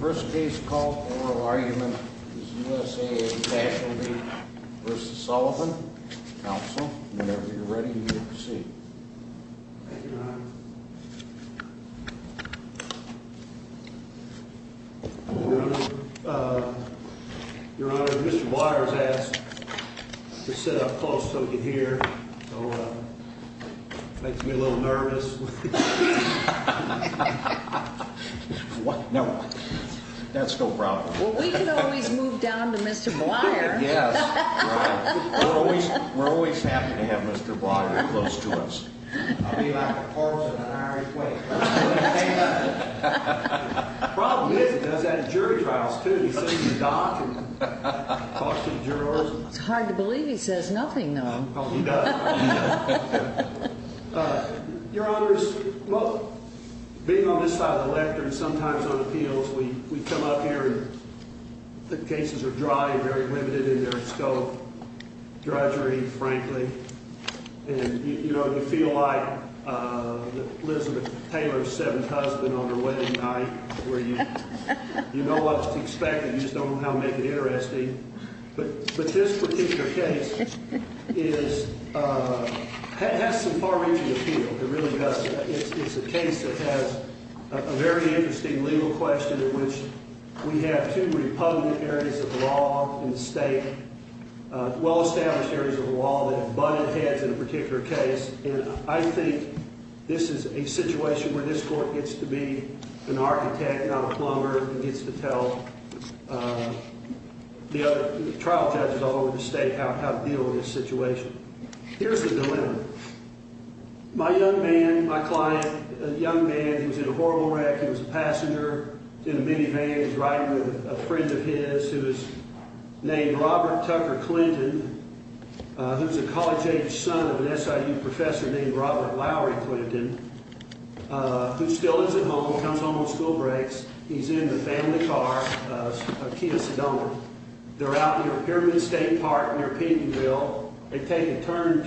First case to call for oral argument is USAA Casualty v. Sullivan. Counsel, whenever you're ready, you may proceed. Thank you, Your Honor. Your Honor, uh, Your Honor, Mr. Waters asked to sit up close so we could hear. So, uh, it makes me a little nervous. What? No. That's no problem. Well, we can always move down to Mr. Blyer. Yes. Right. We're always, we're always happy to have Mr. Blyer close to us. I'll be like a corpse in an Irish way. Problem is, he does that at jury trials, too. He sees the doc and talks to the jurors. It's hard to believe he says nothing, though. Oh, he does. Your Honor, being on this side of the lectern, sometimes on appeals, we come up here and the cases are dry and very limited in their scope, drudgery, frankly. And, you know, you feel like Elizabeth Taylor's seventh husband on her wedding night where you know what to expect and you just don't know how to make it interesting. But this particular case is, uh, has some far-reaching appeal. It really does. It's a case that has a very interesting legal question in which we have two Republican areas of law in the state, well-established areas of law that have butted heads in a particular case. And I think this is a situation where this court gets to be an architect, not a plumber, and gets to tell the trial judges all over the state how to deal with this situation. Here's the dilemma. My young man, my client, a young man, he was in a horrible wreck. He was a passenger. He was in a minivan. He was riding with a friend of his who was named Robert Tucker Clinton, who's a college-age son of an SIU professor named Robert Lowry Clinton, who still isn't home, comes home on school breaks. He's in the family car, a Kia Sedona. They're out near Pyramid State Park near Pedenville. They take a turn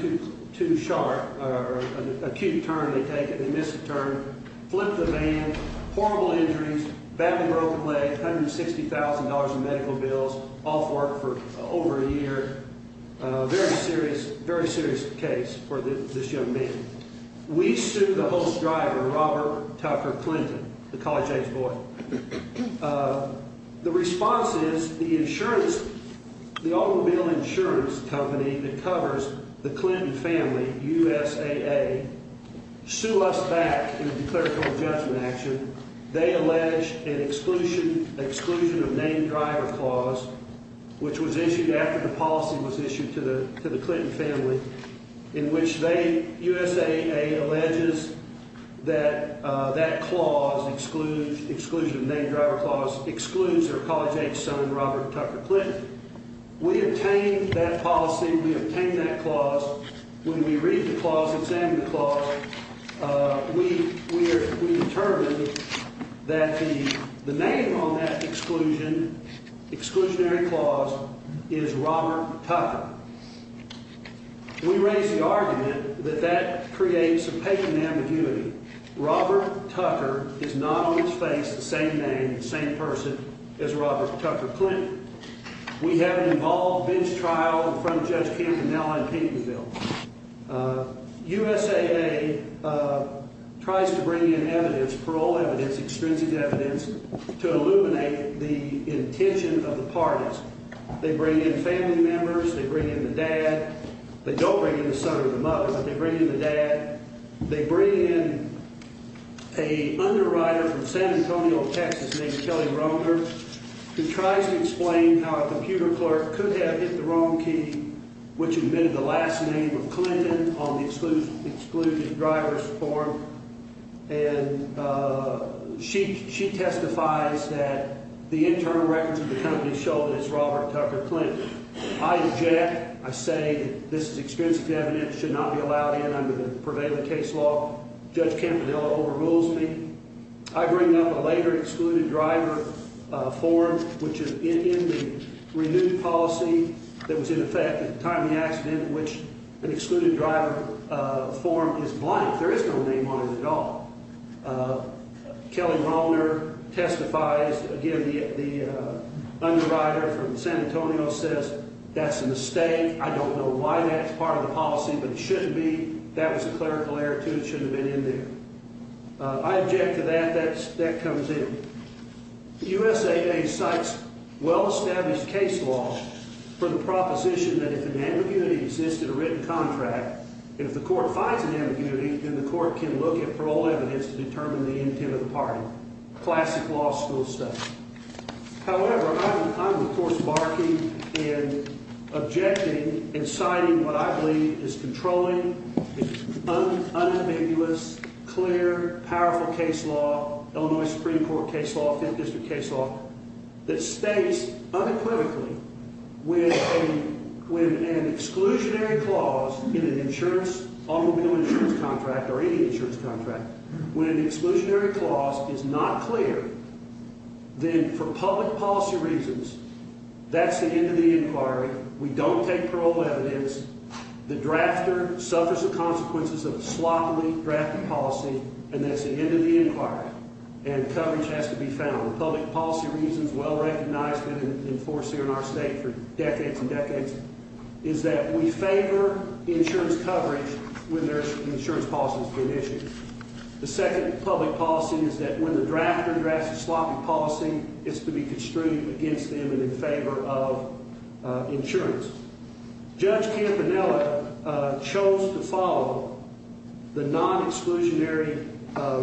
too sharp, an acute turn they take and they miss the turn, flip the van, horrible injuries, badly broken leg, $160,000 in medical bills, off work for over a year. Very serious, very serious case for this young man. We sue the host driver, Robert Tucker Clinton, the college-age boy. The response is the insurance, the automobile insurance company that covers the Clinton family, USAA, sue us back in a declarable judgment action. They allege an exclusion of name driver clause, which was issued after the policy was issued to the Clinton family, in which they, USAA, alleges that that clause, exclusion of name driver clause, excludes their college-age son, Robert Tucker Clinton. We obtained that policy, we obtained that clause. When we read the clause, examine the clause, we determined that the name on that exclusion, exclusionary clause, is Robert Tucker. We raise the argument that that creates a patent ambiguity. Robert Tucker is not on his face the same name, same person as Robert Tucker Clinton. We have an involved bench trial in front of Judge Campanella in Paytonville. USAA tries to bring in evidence, parole evidence, extrinsic evidence, to illuminate the intention of the parties. They bring in family members, they bring in the dad. They don't bring in the son or the mother, but they bring in the dad. They bring in a underwriter from San Antonio, Texas, named Kelly Romer, who tries to explain how a computer clerk could have hit the wrong key, which admitted the last name of Clinton on the exclusion of driver's form. And she testifies that the internal records of the company show that it's Robert Tucker Clinton. I object. I say this is extrinsic evidence. It should not be allowed in. I'm going to prevail in the case law. Judge Campanella overrules me. I bring up a later excluded driver form, which is in the renewed policy that was in effect at the time of the accident, which an excluded driver form is blank. There is no name on it at all. Kelly Romer testifies. Again, the underwriter from San Antonio says that's a mistake. I don't know why that's part of the policy, but it shouldn't be. That was a clerical error, too. It shouldn't have been in there. I object to that. That comes in. USA Day cites well-established case law for the proposition that if an ambiguity exists in a written contract, if the court finds an ambiguity, then the court can look at parole evidence to determine the intent of the party. Classic law school stuff. However, I'm, of course, barking and objecting and citing what I believe is controlling, unambiguous, clear, powerful case law, Illinois Supreme Court case law, Fifth District case law, that states unequivocally when an exclusionary clause in an insurance, automobile insurance contract or any insurance contract, when an exclusionary clause is not clear, then for public policy reasons, that's the end of the inquiry. We don't take parole evidence. The drafter suffers the consequences of a sloppily drafted policy, and that's the end of the inquiry, and coverage has to be found. The public policy reasons well recognized and enforced here in our state for decades and decades is that we favor insurance coverage when there's insurance policies being issued. The second public policy is that when the drafter drafts a sloppy policy, it's to be construed against them and in favor of insurance. Judge Campanella chose to follow the non-exclusionary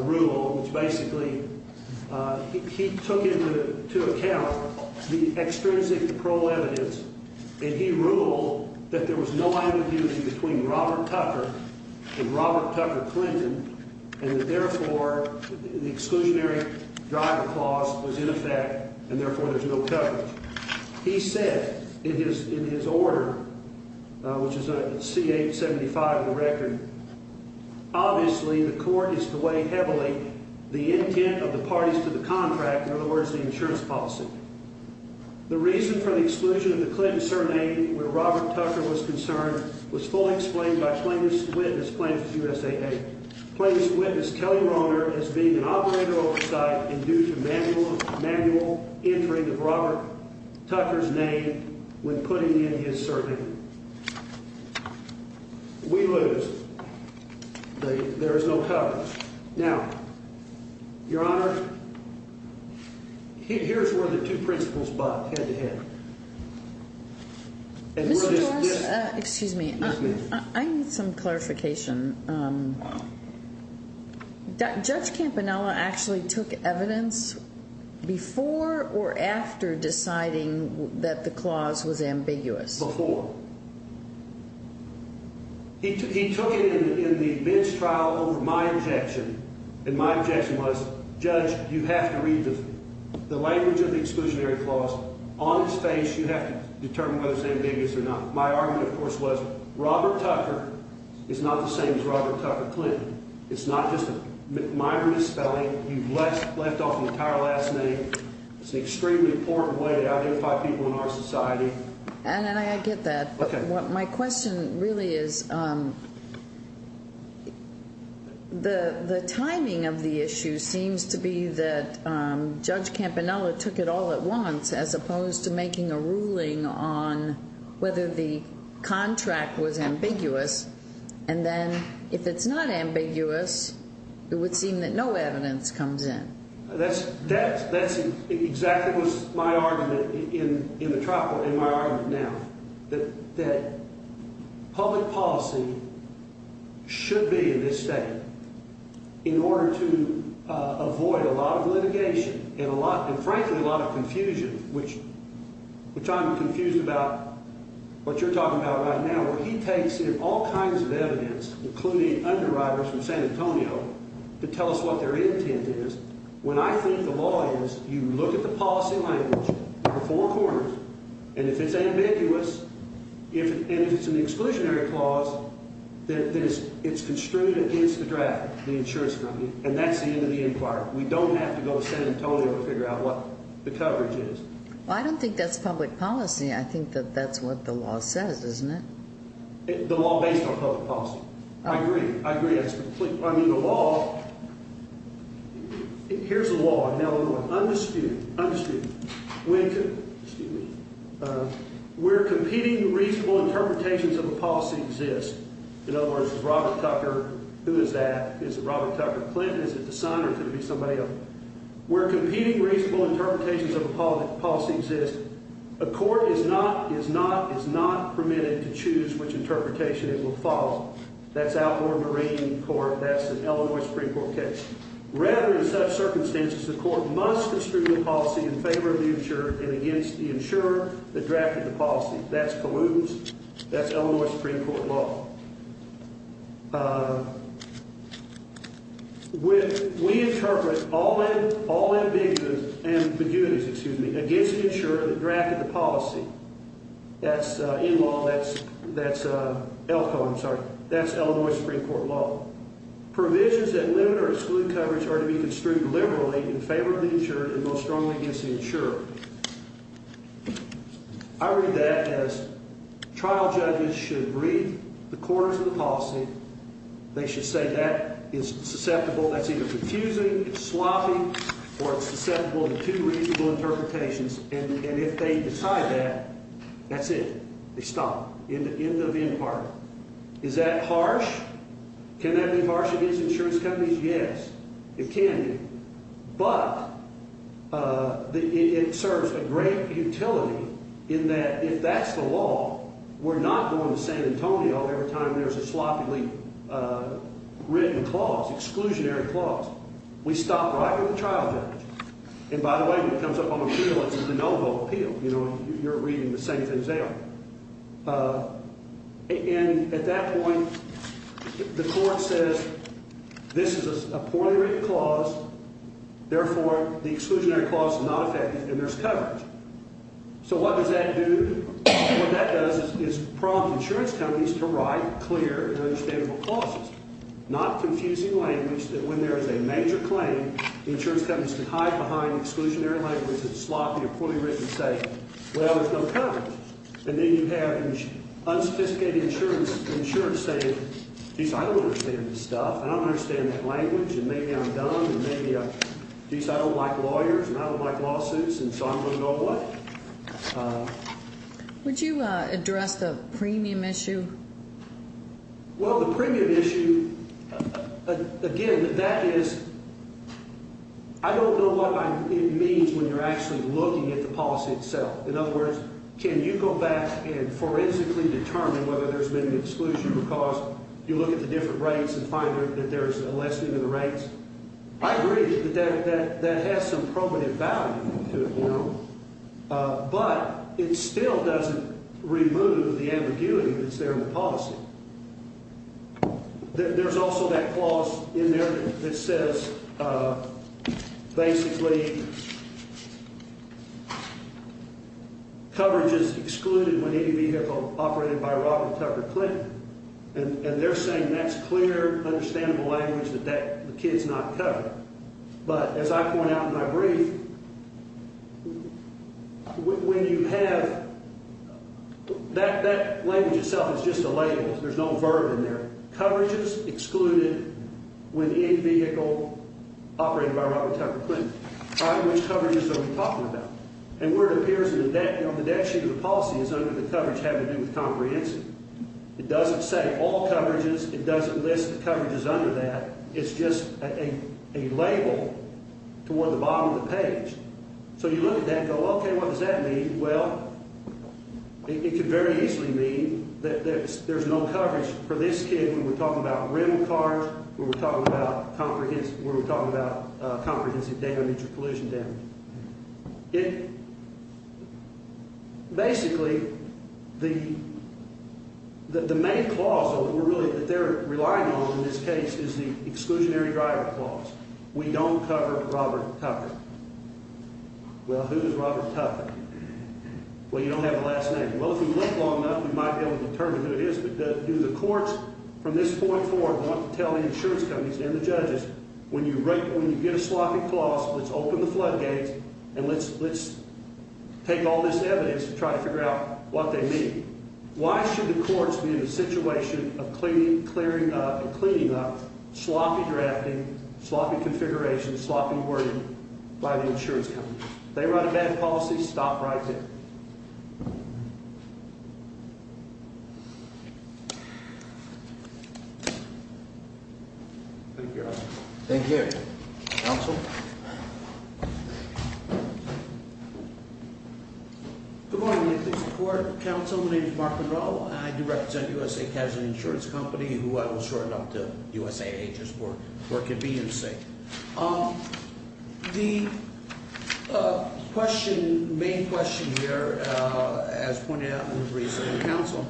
rule, which basically he took into account the extrinsic parole evidence, and he ruled that there was no ambiguity between Robert Tucker and Robert Tucker Clinton, and that, therefore, the exclusionary driver clause was in effect, and, therefore, there's no coverage. He said in his order, which is C875 of the record, obviously the court is to weigh heavily the intent of the parties to the contract, in other words, the insurance policy. The reason for the exclusion of the Clinton surname, where Robert Tucker was concerned, was fully explained by plaintiff's witness, plaintiff's USAA. Plaintiff's witness, Kelly Romer, is being an operator oversight and due to manual entering of Robert Tucker's name when putting in his surname. We lose. There is no coverage. Now, Your Honor, here's where the two principles butt head-to-head. Mr. Jorge, excuse me. Yes, ma'am. I need some clarification. Judge Campanella actually took evidence before or after deciding that the clause was ambiguous? Before. He took it in the bench trial over my objection, and my objection was, Judge, you have to read the language of the exclusionary clause on his face. You have to determine whether it's ambiguous or not. My argument, of course, was Robert Tucker is not the same as Robert Tucker Clinton. It's not just a minor misspelling. You've left off an entire last name. It's an extremely important way to identify people in our society. And I get that, but my question really is, the timing of the issue seems to be that Judge Campanella took it all at once as opposed to making a ruling on whether the contract was ambiguous, and then if it's not ambiguous, it would seem that no evidence comes in. That's exactly what's my argument in the trial court, and my argument now, that public policy should be in this state in order to avoid a lot of litigation and, frankly, a lot of confusion, which I'm confused about what you're talking about right now, where he takes in all kinds of evidence, including underwriters from San Antonio, to tell us what their intent is. When I think the law is, you look at the policy language, number four corners, and if it's ambiguous, and if it's an exclusionary clause, then it's construed against the draft, the insurance company, and that's the end of the inquiry. We don't have to go to San Antonio to figure out what the coverage is. Well, I don't think that's public policy. I think that that's what the law says, isn't it? The law based on public policy. I agree. I agree. I mean, the law, here's the law in Illinois, undisputed, undisputed, where competing reasonable interpretations of a policy exist. In other words, is Robert Tucker, who is that? Is it Robert Tucker Clinton? Is it the son, or could it be somebody else? Where competing reasonable interpretations of a policy exist, a court is not permitted to choose which interpretation it will follow. That's outlaw marine court. That's an Illinois Supreme Court case. Rather, in such circumstances, the court must construe the policy in favor of the insurer and against the insurer that drafted the policy. That's pollutants. That's Illinois Supreme Court law. We interpret all ambiguities against the insurer that drafted the policy. That's in law. That's Illinois Supreme Court law. Provisions that limit or exclude coverage are to be construed liberally in favor of the insurer and most strongly against the insurer. I read that as trial judges should read the corners of the policy. They should say that is susceptible. That's either confusing, sloppy, or it's susceptible to two reasonable interpretations. And if they decide that, that's it. They stop. End of end part. Is that harsh? Can that be harsh against insurance companies? Yes, it can be. But it serves a great utility in that if that's the law, we're not going to San Antonio every time there's a sloppily written clause, exclusionary clause. We stop right at the trial judge. And, by the way, when it comes up on appeal, it's a de novo appeal. You know, you're reading the same thing as they are. And at that point, the court says this is a poorly written clause. Therefore, the exclusionary clause is not effective and there's coverage. So what does that do? What that does is prompt insurance companies to write clear and understandable clauses, not confusing language that when there is a major claim, the insurance companies can hide behind exclusionary language that's sloppy or poorly written and say, well, there's no coverage. And then you have unsophisticated insurance saying, geez, I don't understand this stuff and I don't understand that language and maybe I'm dumb and maybe, geez, I don't like lawyers and I don't like lawsuits and so I'm going to go away. Would you address the premium issue? Well, the premium issue, again, that is I don't know what it means when you're actually looking at the policy itself. In other words, can you go back and forensically determine whether there's been an exclusion because you look at the different rates and find that there's a lessening of the rates? I agree that that has some probative value to it now, but it still doesn't remove the ambiguity that's there in the policy. There's also that clause in there that says basically coverage is excluded when any vehicle operated by Robert Tucker Clinton and they're saying that's clear, understandable language that the kid's not covered. But as I point out in my brief, when you have that language itself is just a label. There's no verb in there. Coverage is excluded when any vehicle operated by Robert Tucker Clinton. By which coverage are we talking about? And where it appears in the debt sheet of the policy is under the coverage having to do with comprehensive. It doesn't say all coverages. It doesn't list the coverages under that. It's just a label toward the bottom of the page. So you look at that and go, okay, what does that mean? Well, it could very easily mean that there's no coverage for this kid when we're talking about rim cars, when we're talking about comprehensive damage or collision damage. Basically, the main clause that they're relying on in this case is the exclusionary driver clause. We don't cover Robert Tucker. Well, who is Robert Tucker? Well, you don't have a last name. Well, if we look long enough, we might be able to determine who it is. But do the courts from this point forward want to tell the insurance companies and the judges when you get a sloppy clause, let's open the floodgates and let's take all this evidence and try to figure out what they mean? Why should the courts be in a situation of cleaning up sloppy drafting, sloppy configuration, sloppy wording by the insurance company? They run a bad policy, stop writing. Thank you. Thank you. Counsel. Good morning. Please support counsel. My name is Mark Monroe. I do represent U.S.A. The question, main question here, as pointed out in the recent counsel,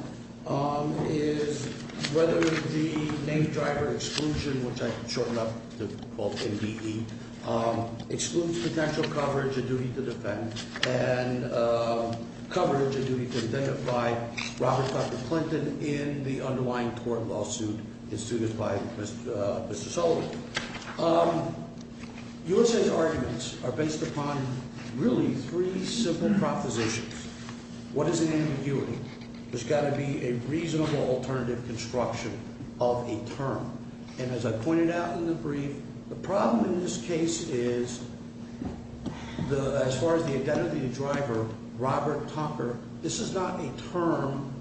is whether the name driver exclusion, which I shortened up to MBE, excludes potential coverage of duty to defend and coverage of duty to identify Robert Tucker Clinton in the underlying court lawsuit. It's to this by Mr. Sullivan. U.S.A.'s arguments are based upon really three simple propositions. What is an ambiguity? There's got to be a reasonable alternative construction of a term. And as I pointed out in the brief, the problem in this case is, as far as the identity driver, Robert Tucker, this is not a term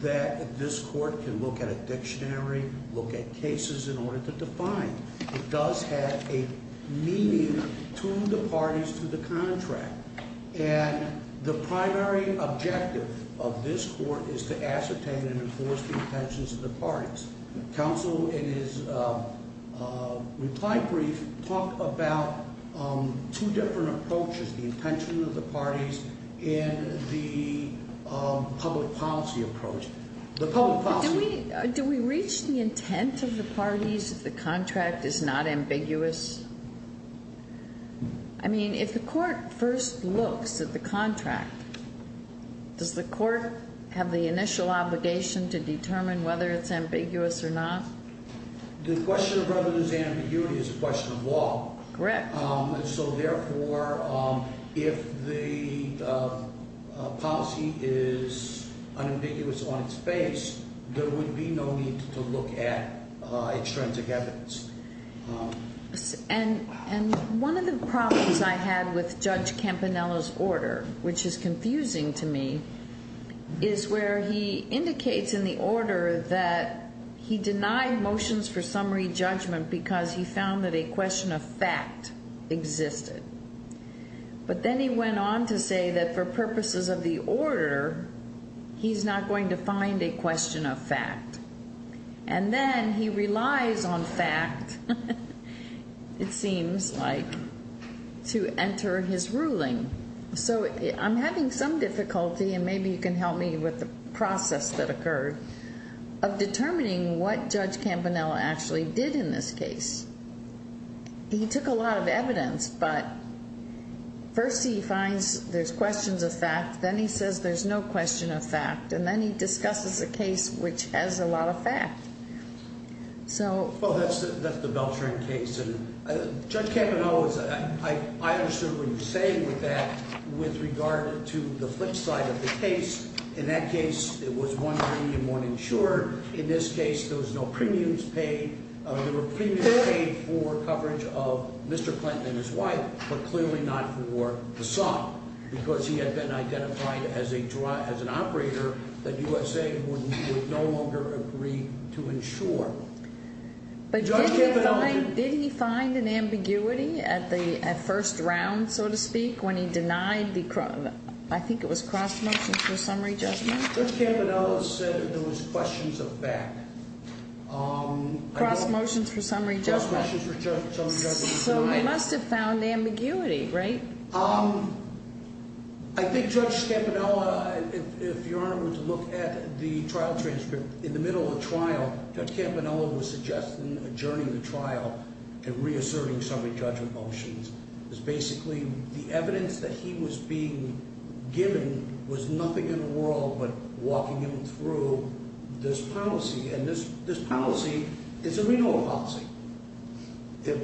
that this court can look at a dictionary, look at cases in order to define. It does have a meaning to the parties to the contract. And the primary objective of this court is to ascertain and enforce the intentions of the parties. Counsel, in his reply brief, talked about two different approaches, the intention of the parties and the public policy approach. The public policy approach. Do we reach the intent of the parties if the contract is not ambiguous? I mean, if the court first looks at the contract, does the court have the initial obligation to determine whether it's ambiguous or not? The question of whether there's ambiguity is a question of law. Correct. So, therefore, if the policy is unambiguous on its face, there would be no need to look at extrinsic evidence. And one of the problems I had with Judge Campanella's order, which is confusing to me, is where he indicates in the order that he denied motions for summary judgment because he found that a question of fact existed. But then he went on to say that for purposes of the order, he's not going to find a question of fact. And then he relies on fact, it seems like, to enter his ruling. So I'm having some difficulty, and maybe you can help me with the process that occurred, of determining what Judge Campanella actually did in this case. He took a lot of evidence, but first he finds there's questions of fact, then he says there's no question of fact, and then he discusses a case which has a lot of fact. Well, that's the Beltran case. Judge Campanella, I understood what you're saying with that with regard to the flip side of the case. In that case, it was one premium, one insured. In this case, there was no premiums paid. There were premiums paid for coverage of Mr. Clinton and his wife, but clearly not for the son, because he had been identified as an operator that USA would no longer agree to insure. But did he find an ambiguity at first round, so to speak, when he denied the, I think it was cross-motion for summary judgment? Judge Campanella said there was questions of fact. Cross-motions for summary judgment. Cross-motions for summary judgment. So he must have found ambiguity, right? I think Judge Campanella, if Your Honor would look at the trial transcript, in the middle of the trial, Judge Campanella was suggesting adjourning the trial and reasserting summary judgment motions. It's basically the evidence that he was being given was nothing in the world but walking him through this policy, and this policy is a renewal policy.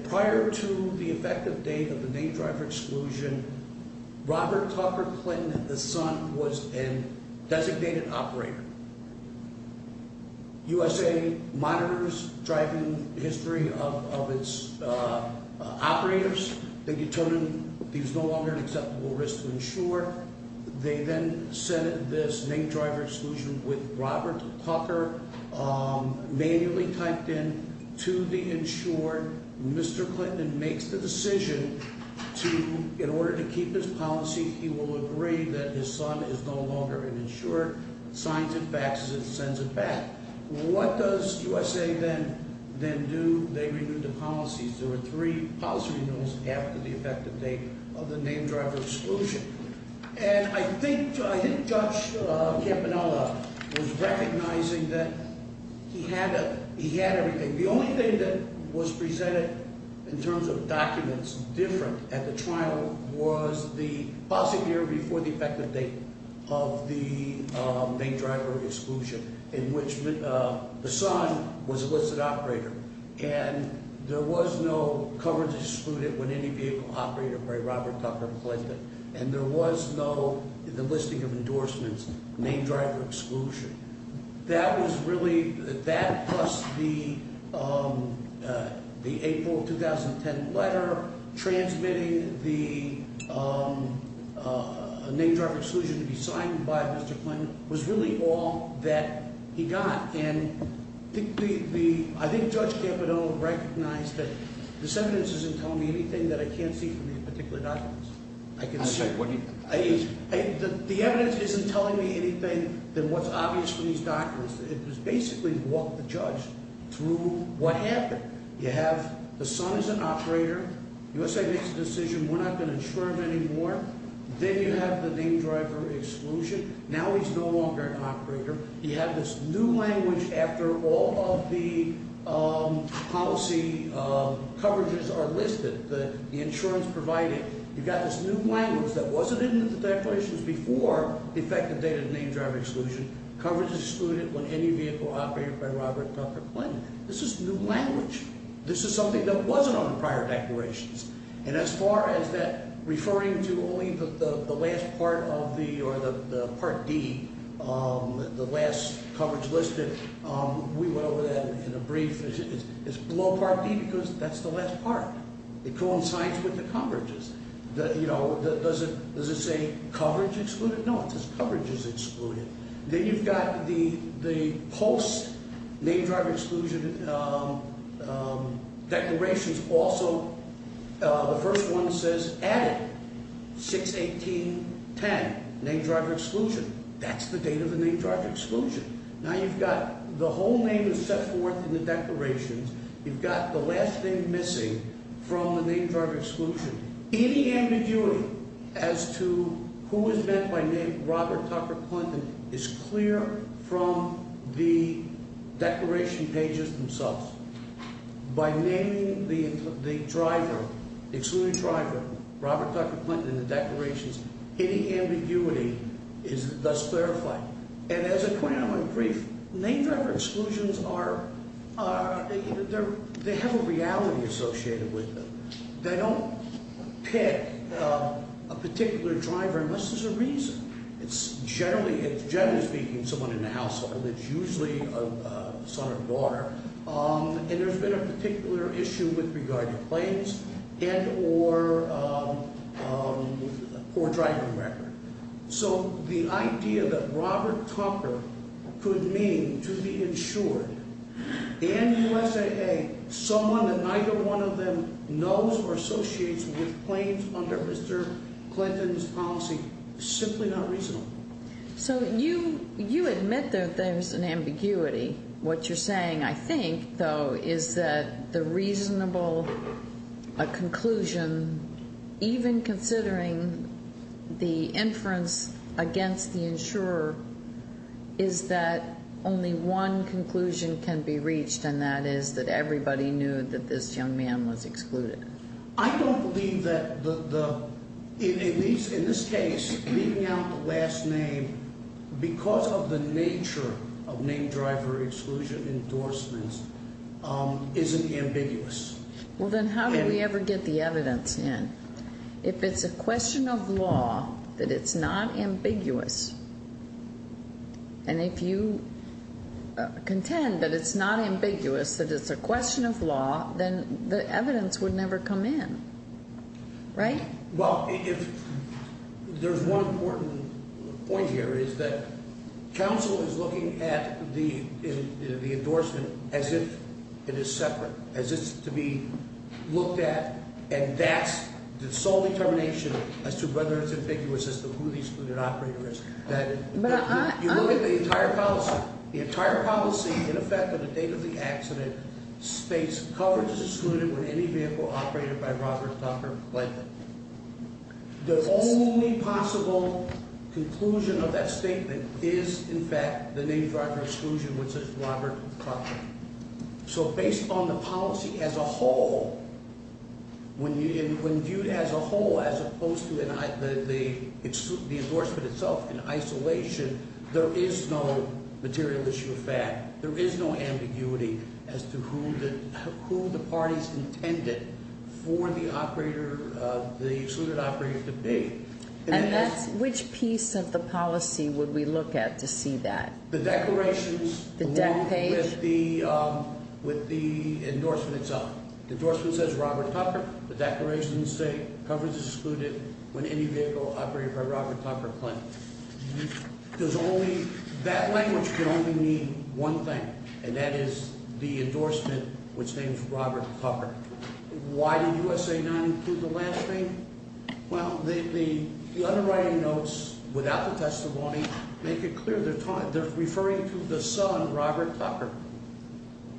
Prior to the effective date of the name driver exclusion, Robert Tucker Clinton, the son, was a designated operator. USA monitors driving history of its operators. They determined he was no longer an acceptable risk to insure. They then sent this name driver exclusion with Robert Tucker, manually typed in to the insured. Mr. Clinton makes the decision to, in order to keep his policy, he will agree that his son is no longer an insured. Signs and faxes it and sends it back. What does USA then do? They renew the policies. There were three policy renewals after the effective date of the name driver exclusion. And I think Judge Campanella was recognizing that he had everything. The only thing that was presented in terms of documents different at the trial was the policy here before the effective date of the name driver exclusion, in which the son was a listed operator. And there was no coverage excluded when any vehicle operated by Robert Tucker Clinton. And there was no, in the listing of endorsements, name driver exclusion. That was really, that plus the April 2010 letter, transmitting the name driver exclusion to be signed by Mr. Clinton, was really all that he got. And I think Judge Campanella recognized that this evidence isn't telling me anything that I can't see from the particular documents. The evidence isn't telling me anything that was obvious from these documents. It was basically what the judge, through what happened. You have the son is an operator. USA makes a decision, we're not going to insure him anymore. Then you have the name driver exclusion. Now he's no longer an operator. You have this new language after all of the policy coverages are listed, the insurance provided. You've got this new language that wasn't in the declarations before the effective date of the name driver exclusion. Coverage excluded when any vehicle operated by Robert Tucker Clinton. This is new language. This is something that wasn't on the prior declarations. And as far as that referring to only the last part of the, or the Part D, the last coverage listed. We went over that in a brief. It's below Part D because that's the last part. It coincides with the coverages. Does it say coverage excluded? No, it says coverages excluded. Then you've got the post name driver exclusion declarations. Also, the first one says added, 6-18-10, name driver exclusion. That's the date of the name driver exclusion. Now you've got the whole name is set forth in the declarations. You've got the last name missing from the name driver exclusion. Any ambiguity as to who was meant by name Robert Tucker Clinton is clear from the declaration pages themselves. By naming the driver, the excluded driver, Robert Tucker Clinton in the declarations, any ambiguity is thus clarified. And as a point I want to make brief, name driver exclusions are, they have a reality associated with them. They don't pick a particular driver unless there's a reason. It's generally speaking someone in the household. It's usually a son or daughter. And there's been a particular issue with regard to claims and or poor driving record. So the idea that Robert Tucker could mean to be insured and USAA, someone that neither one of them knows or associates with claims under Mr. Clinton's policy is simply not reasonable. So you admit that there's an ambiguity. What you're saying, I think, though, is that the reasonable conclusion, even considering the inference against the insurer, is that only one conclusion can be reached, and that is that everybody knew that this young man was excluded. I don't believe that the, in this case, leaving out the last name because of the nature of name driver exclusion endorsements isn't ambiguous. Well, then how do we ever get the evidence in? If it's a question of law, that it's not ambiguous, and if you contend that it's not ambiguous, that it's a question of law, then the evidence would never come in. Right? Well, there's one important point here, is that counsel is looking at the endorsement as if it is separate, as if it's to be looked at, and that's the sole determination as to whether it's ambiguous as to who the excluded operator is. You look at the entire policy. The entire policy, in effect, at the date of the accident, states coverage is excluded with any vehicle operated by Robert Tucker Lytton. The only possible conclusion of that statement is, in fact, the name driver exclusion, which is Robert Tucker. So based on the policy as a whole, when viewed as a whole as opposed to the endorsement itself in isolation, there is no material issue of fact. There is no ambiguity as to who the parties intended for the excluded operator to be. And that's, which piece of the policy would we look at to see that? The declarations- The deck page. With the endorsement itself. The endorsement says Robert Tucker. The declarations say coverage is excluded when any vehicle operated by Robert Tucker Clinton. There's only, that language can only mean one thing, and that is the endorsement, which names Robert Tucker. Why did USA 9 include the last name? Well, the underwriting notes without the testimony make it clear they're referring to the son, Robert Tucker.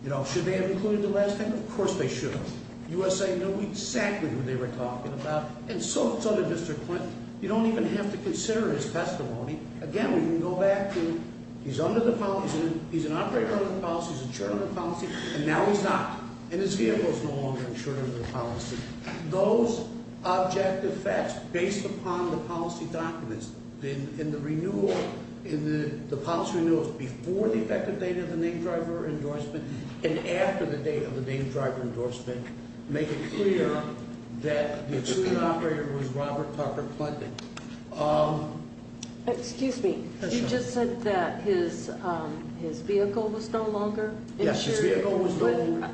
You know, should they have included the last name? Of course they should have. USA knew exactly who they were talking about, and so did Mr. Clinton. You don't even have to consider his testimony. Again, we can go back to he's under the policy, he's an operator under the policy, he's insured under the policy, and now he's not, and his vehicle is no longer insured under the policy. Those objective facts based upon the policy documents in the renewal, in the policy renewals before the effective date of the name driver endorsement, and after the date of the name driver endorsement, make it clear that the excluded operator was Robert Tucker Clinton. Excuse me, you just said that his vehicle was no longer insured?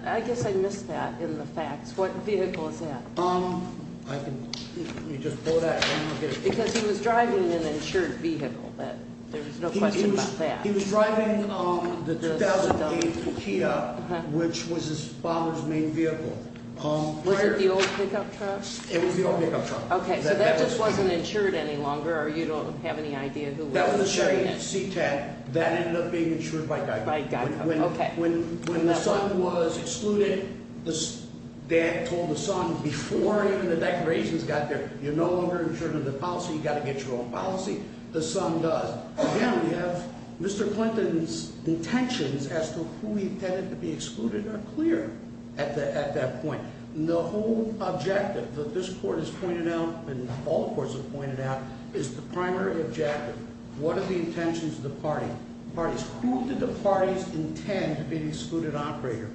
I guess I missed that in the facts. What vehicle is that? Let me just pull that down here. Because he was driving an insured vehicle. There's no question about that. He was driving the 2008 Kia, which was his father's main vehicle. Was it the old pickup truck? It was the old pickup truck. Okay, so that just wasn't insured any longer, or you don't have any idea who was insuring it? That was the Chevy C10. That ended up being insured by Geico. When the son was excluded, dad told the son before even the declarations got there, you're no longer insured under the policy, you've got to get your own policy. The son does. Again, we have Mr. Clinton's intentions as to who he intended to be excluded are clear at that point. The whole objective that this court has pointed out, and all courts have pointed out, is the primary objective. What are the intentions of the parties? Who did the parties intend to be the excluded operator?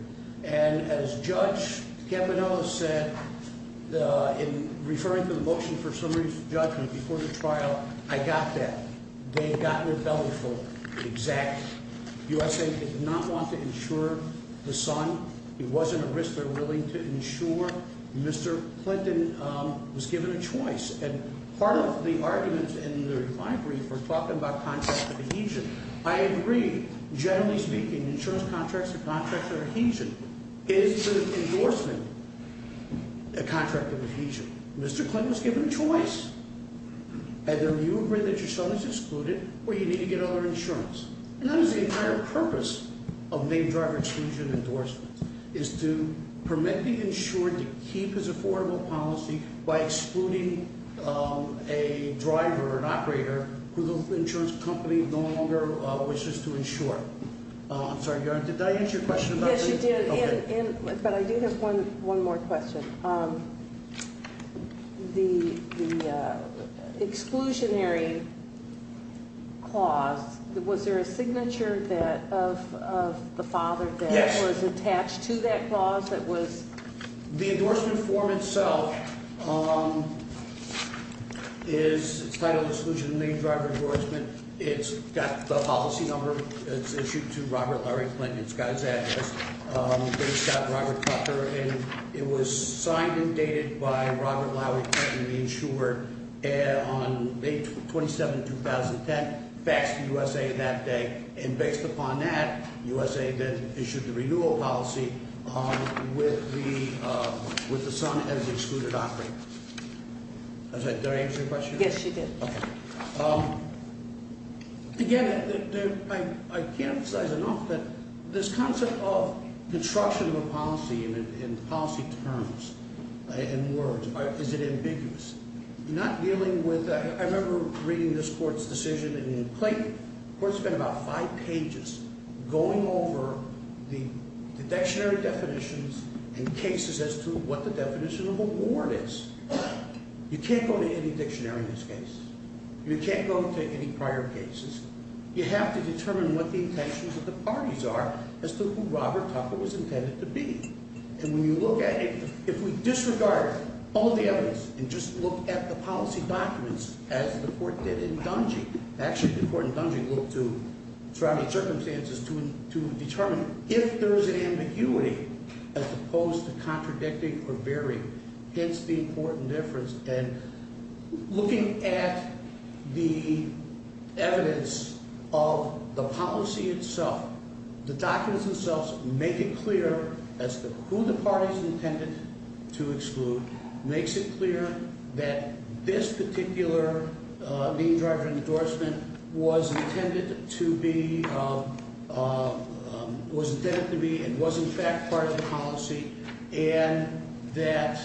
And as Judge Campanello said in referring to the motion for summary judgment before the trial, I got that. They had gotten a bellyful, exact. USAID did not want to insure the son. It wasn't a risk they were willing to insure. Mr. Clinton was given a choice. And part of the arguments in the refinery for talking about contracts of adhesion, I agree. Generally speaking, insurance contracts or contracts of adhesion is an endorsement, a contract of adhesion. Mr. Clinton was given a choice. Either you agree that your son is excluded, or you need to get other insurance. And that is the entire purpose of named driver exclusion endorsement, is to permit the insured to keep his affordable policy by excluding a driver, an operator, who the insurance company no longer wishes to insure. I'm sorry, Your Honor, did I answer your question about the- Yes, you did. Okay. But I do have one more question. The exclusionary clause, was there a signature of the father that was attached to that clause that was- Yes. The endorsement form itself is titled exclusion of named driver endorsement. It's got the policy number. It's issued to Robert Larry Clinton. It's got his address. It's got Robert Tucker, and it was signed and dated by Robert Larry Clinton, the insured, on May 27, 2010, faxed to USA that day. And based upon that, USA then issued the renewal policy with the son as excluded operator. Did I answer your question? Yes, you did. Okay. Again, I can't emphasize enough that this concept of construction of a policy in policy terms and words, is it ambiguous? Not dealing with-I remember reading this court's decision in Clayton. The court spent about five pages going over the dictionary definitions and cases as to what the definition of a warrant is. You can't go to any dictionary in this case. You can't go to any prior cases. You have to determine what the intentions of the parties are as to who Robert Tucker was intended to be. And when you look at it, if we disregard all the evidence and just look at the policy documents, as the court did in Dungy, actually the court in Dungy looked to surrounding circumstances to determine if there is an ambiguity as opposed to contradicting or varying, hence the important difference. And looking at the evidence of the policy itself, the documents themselves make it clear as to who the parties intended to exclude, makes it clear that this particular lien driver endorsement was intended to be and was in fact part of the policy and that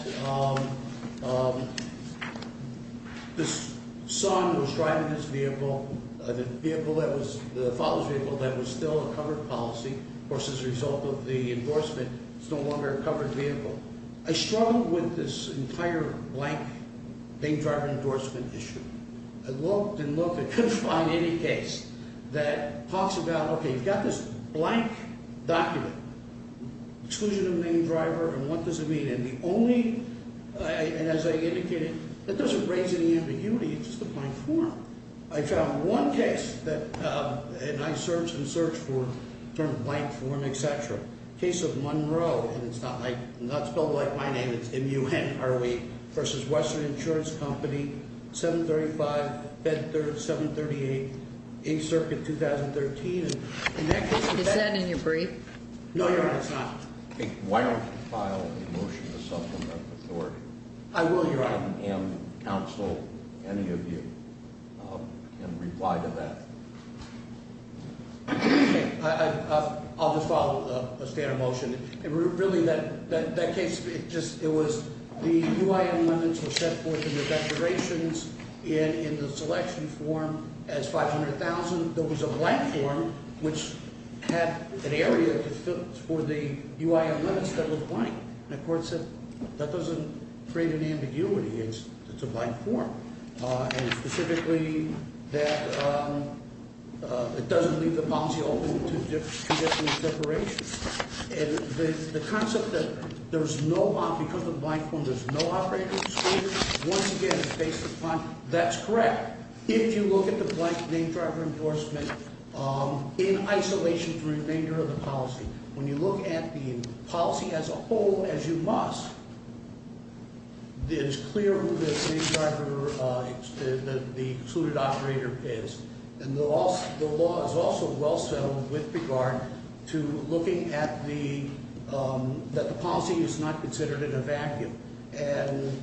this son was driving this vehicle, the father's vehicle, that was still a covered policy. Of course, as a result of the endorsement, it's no longer a covered vehicle. I struggled with this entire blank lien driver endorsement issue. I looked and looked and couldn't find any case that talks about, okay, you've got this blank document, exclusion of lien driver, and what does it mean? And the only, and as I indicated, that doesn't raise any ambiguity, it's just a blank form. I found one case that, and I searched and searched for a blank form, et cetera, case of Monroe, and it's not spelled like my name, it's M-U-N-R-O-E, versus Western Insurance Company, 735, 738, 8th Circuit, 2013. Is that in your brief? No, Your Honor, it's not. Why don't you file a motion to supplement the court? I will, Your Honor. And counsel, any of you, can reply to that. I'll just follow a standard motion. Really, that case, it was the UIN amendments were set forth in the declarations in the selection form as 500,000. There was a blank form, which had an area for the UIN amendments that was blank. And the court said, that doesn't create an ambiguity, it's a blank form. And specifically, that it doesn't leave the policy open to different separations. And the concept that there's no, because of the blank form, there's no operating exclusion, once again, it's based upon, that's correct. If you look at the blank name driver endorsement, in isolation from the remainder of the policy. When you look at the policy as a whole, as you must, it is clear who the name driver, the excluded operator is. And the law is also well settled with regard to looking at the, that the policy is not considered in a vacuum. And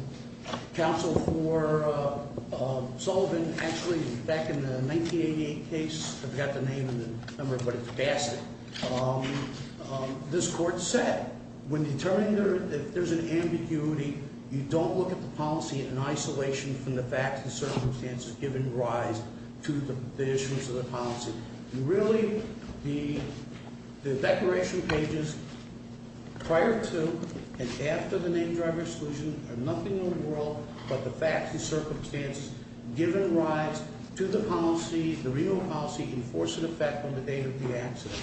counsel for Sullivan, actually back in the 1988 case, I forgot the name and the number, but it's Bassett. This court said, when determining if there's an ambiguity, you don't look at the policy in isolation from the facts and circumstances given rise to the issuance of the policy. Really, the declaration pages prior to and after the name driver exclusion are nothing in the world but the facts and circumstances given rise to the policy, the renewal policy in force and effect on the date of the accident.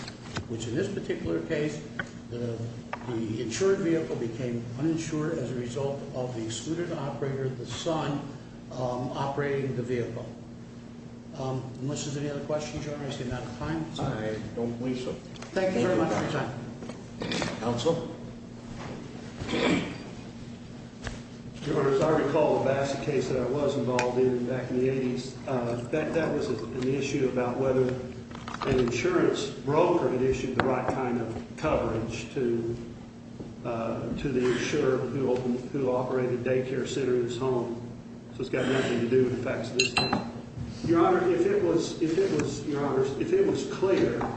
Which in this particular case, the insured vehicle became uninsured as a result of the excluded operator, the son, operating the vehicle. Unless there's any other questions, you're asking about the time. I don't believe so. Thank you very much for your time. Counsel. Your Honor, as I recall, the Bassett case that I was involved in back in the 80s, that was an issue about whether an insurance broker had issued the right kind of coverage to the insurer who operated the daycare center in his home. So it's got nothing to do with the facts of this case. Your Honor, if it was clear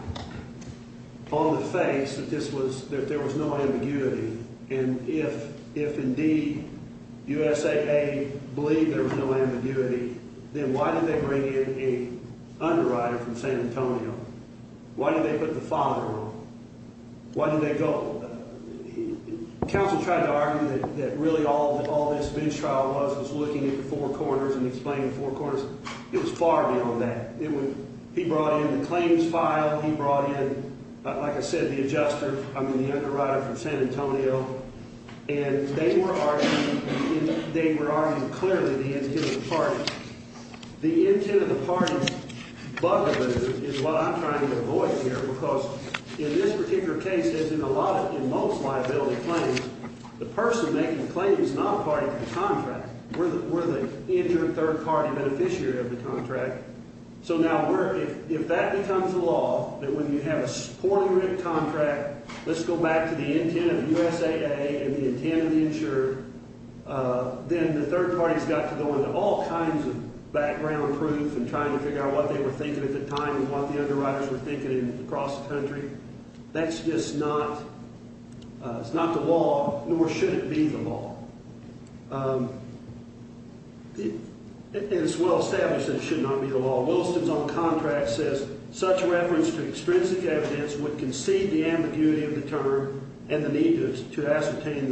on the face that there was no ambiguity, and if indeed USAA believed there was no ambiguity, then why did they bring in a underwriter from San Antonio? Why did they put the father on? Why did they go? Counsel tried to argue that really all this bootstrap was was looking at the four corners and explaining the four corners. It was far beyond that. He brought in the claims file. He brought in, like I said, the adjuster, I mean, the underwriter from San Antonio. And they were arguing clearly the intent of the parties. The intent of the parties bugger is what I'm trying to avoid here because in this particular case, as in most liability claims, the person making the claim is not a party to the contract. We're the injured third-party beneficiary of the contract. So now if that becomes the law, that when you have a poorly written contract, let's go back to the intent of USAA and the intent of the insurer, then the third party has got to go into all kinds of background proof and trying to figure out what they were thinking at the time and what the underwriters were thinking across the country. That's just not the law, nor should it be the law. It's well established that it should not be the law. Williston's own contract says, such reference to extrinsic evidence would concede the ambiguity of the term and the need to ascertain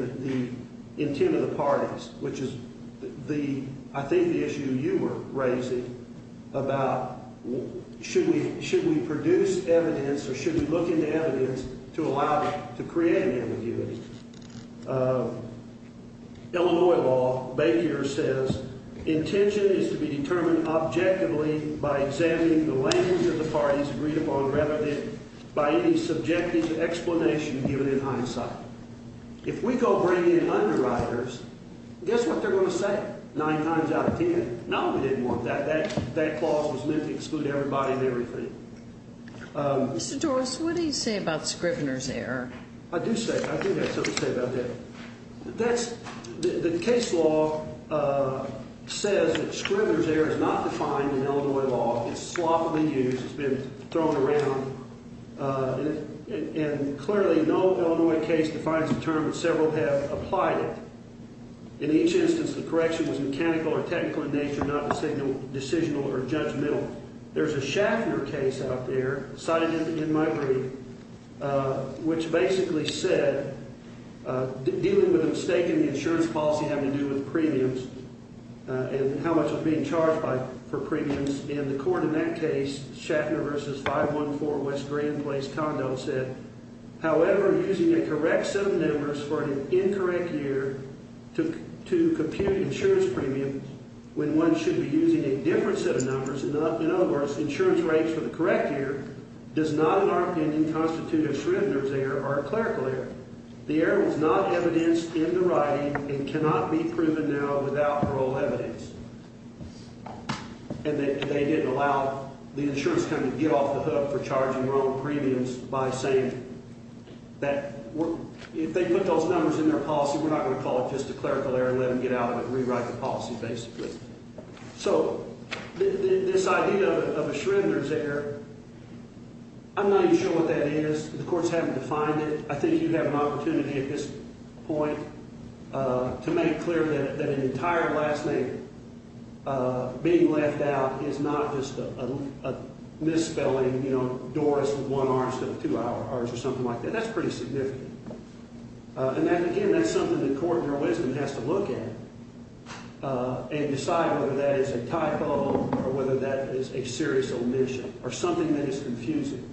the intent of the parties, which is, I think, the issue you were raising about should we produce evidence or should we look into evidence to create an ambiguity. Illinois law, Baker says, intention is to be determined objectively by examining the language of the parties agreed upon rather than by any subjective explanation given in hindsight. If we go bring in underwriters, guess what they're going to say? Nine times out of ten, no, we didn't want that. That clause was meant to exclude everybody and everything. Mr. Doris, what do you say about Scrivener's error? I do have something to say about that. The case law says that Scrivener's error is not defined in Illinois law. It's sloppily used. It's been thrown around. And clearly, no Illinois case defines the term, but several have applied it. In each instance, the correction was mechanical or technical in nature, not decisional or judgmental. There's a Schaffner case out there cited in my brief, which basically said dealing with a mistake in the insurance policy having to do with premiums and how much was being charged for premiums. In the court in that case, Schaffner v. 514 West Grand Place Condo said, however, using a correct set of numbers for an incorrect year to compute insurance premiums when one should be using a different set of numbers, in other words, insurance rates for the correct year, does not, in our opinion, constitute a Scrivener's error or a clerical error. The error was not evidenced in the writing and cannot be proven now without parole evidence. And they didn't allow the insurance company to get off the hook for charging wrong premiums by saying that if they put those numbers in their policy, we're not going to call it just a clerical error and let them get out of it and rewrite the policy, basically. So this idea of a Scrivener's error, I'm not even sure what that is. The courts haven't defined it. I think you have an opportunity at this point to make clear that an entire last name being left out is not just a misspelling, you know, Doris with one R instead of two R's or something like that. That's pretty significant. And, again, that's something the court in their wisdom has to look at and decide whether that is a typo or whether that is a serious omission or something that is confusing.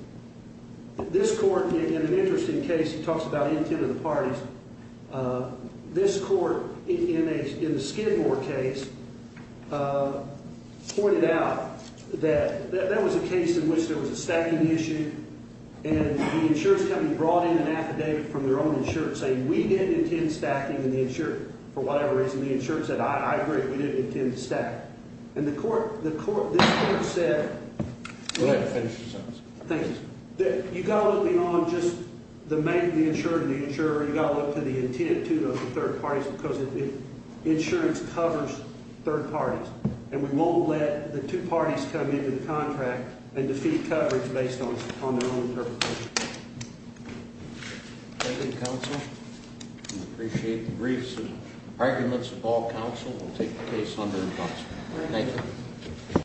This court, in an interesting case, talks about intent of the parties. This court, in the Skidmore case, pointed out that that was a case in which there was a stacking issue and the insurance company brought in an affidavit from their own insurance saying we didn't intend stacking in the insurance for whatever reason. The insurance said, I agree, we didn't intend to stack. And the court, this court said... Go ahead. Finish your sentence. Thank you. You've got to look beyond just the main insurer and the insurer. You've got to look to the intent of the third parties because insurance covers third parties. And we won't let the two parties come into the contract and defeat coverage based on their own interpretation. Thank you, counsel. We appreciate the briefs and arguments of all counsel. We'll take the case under in counsel. Thank you.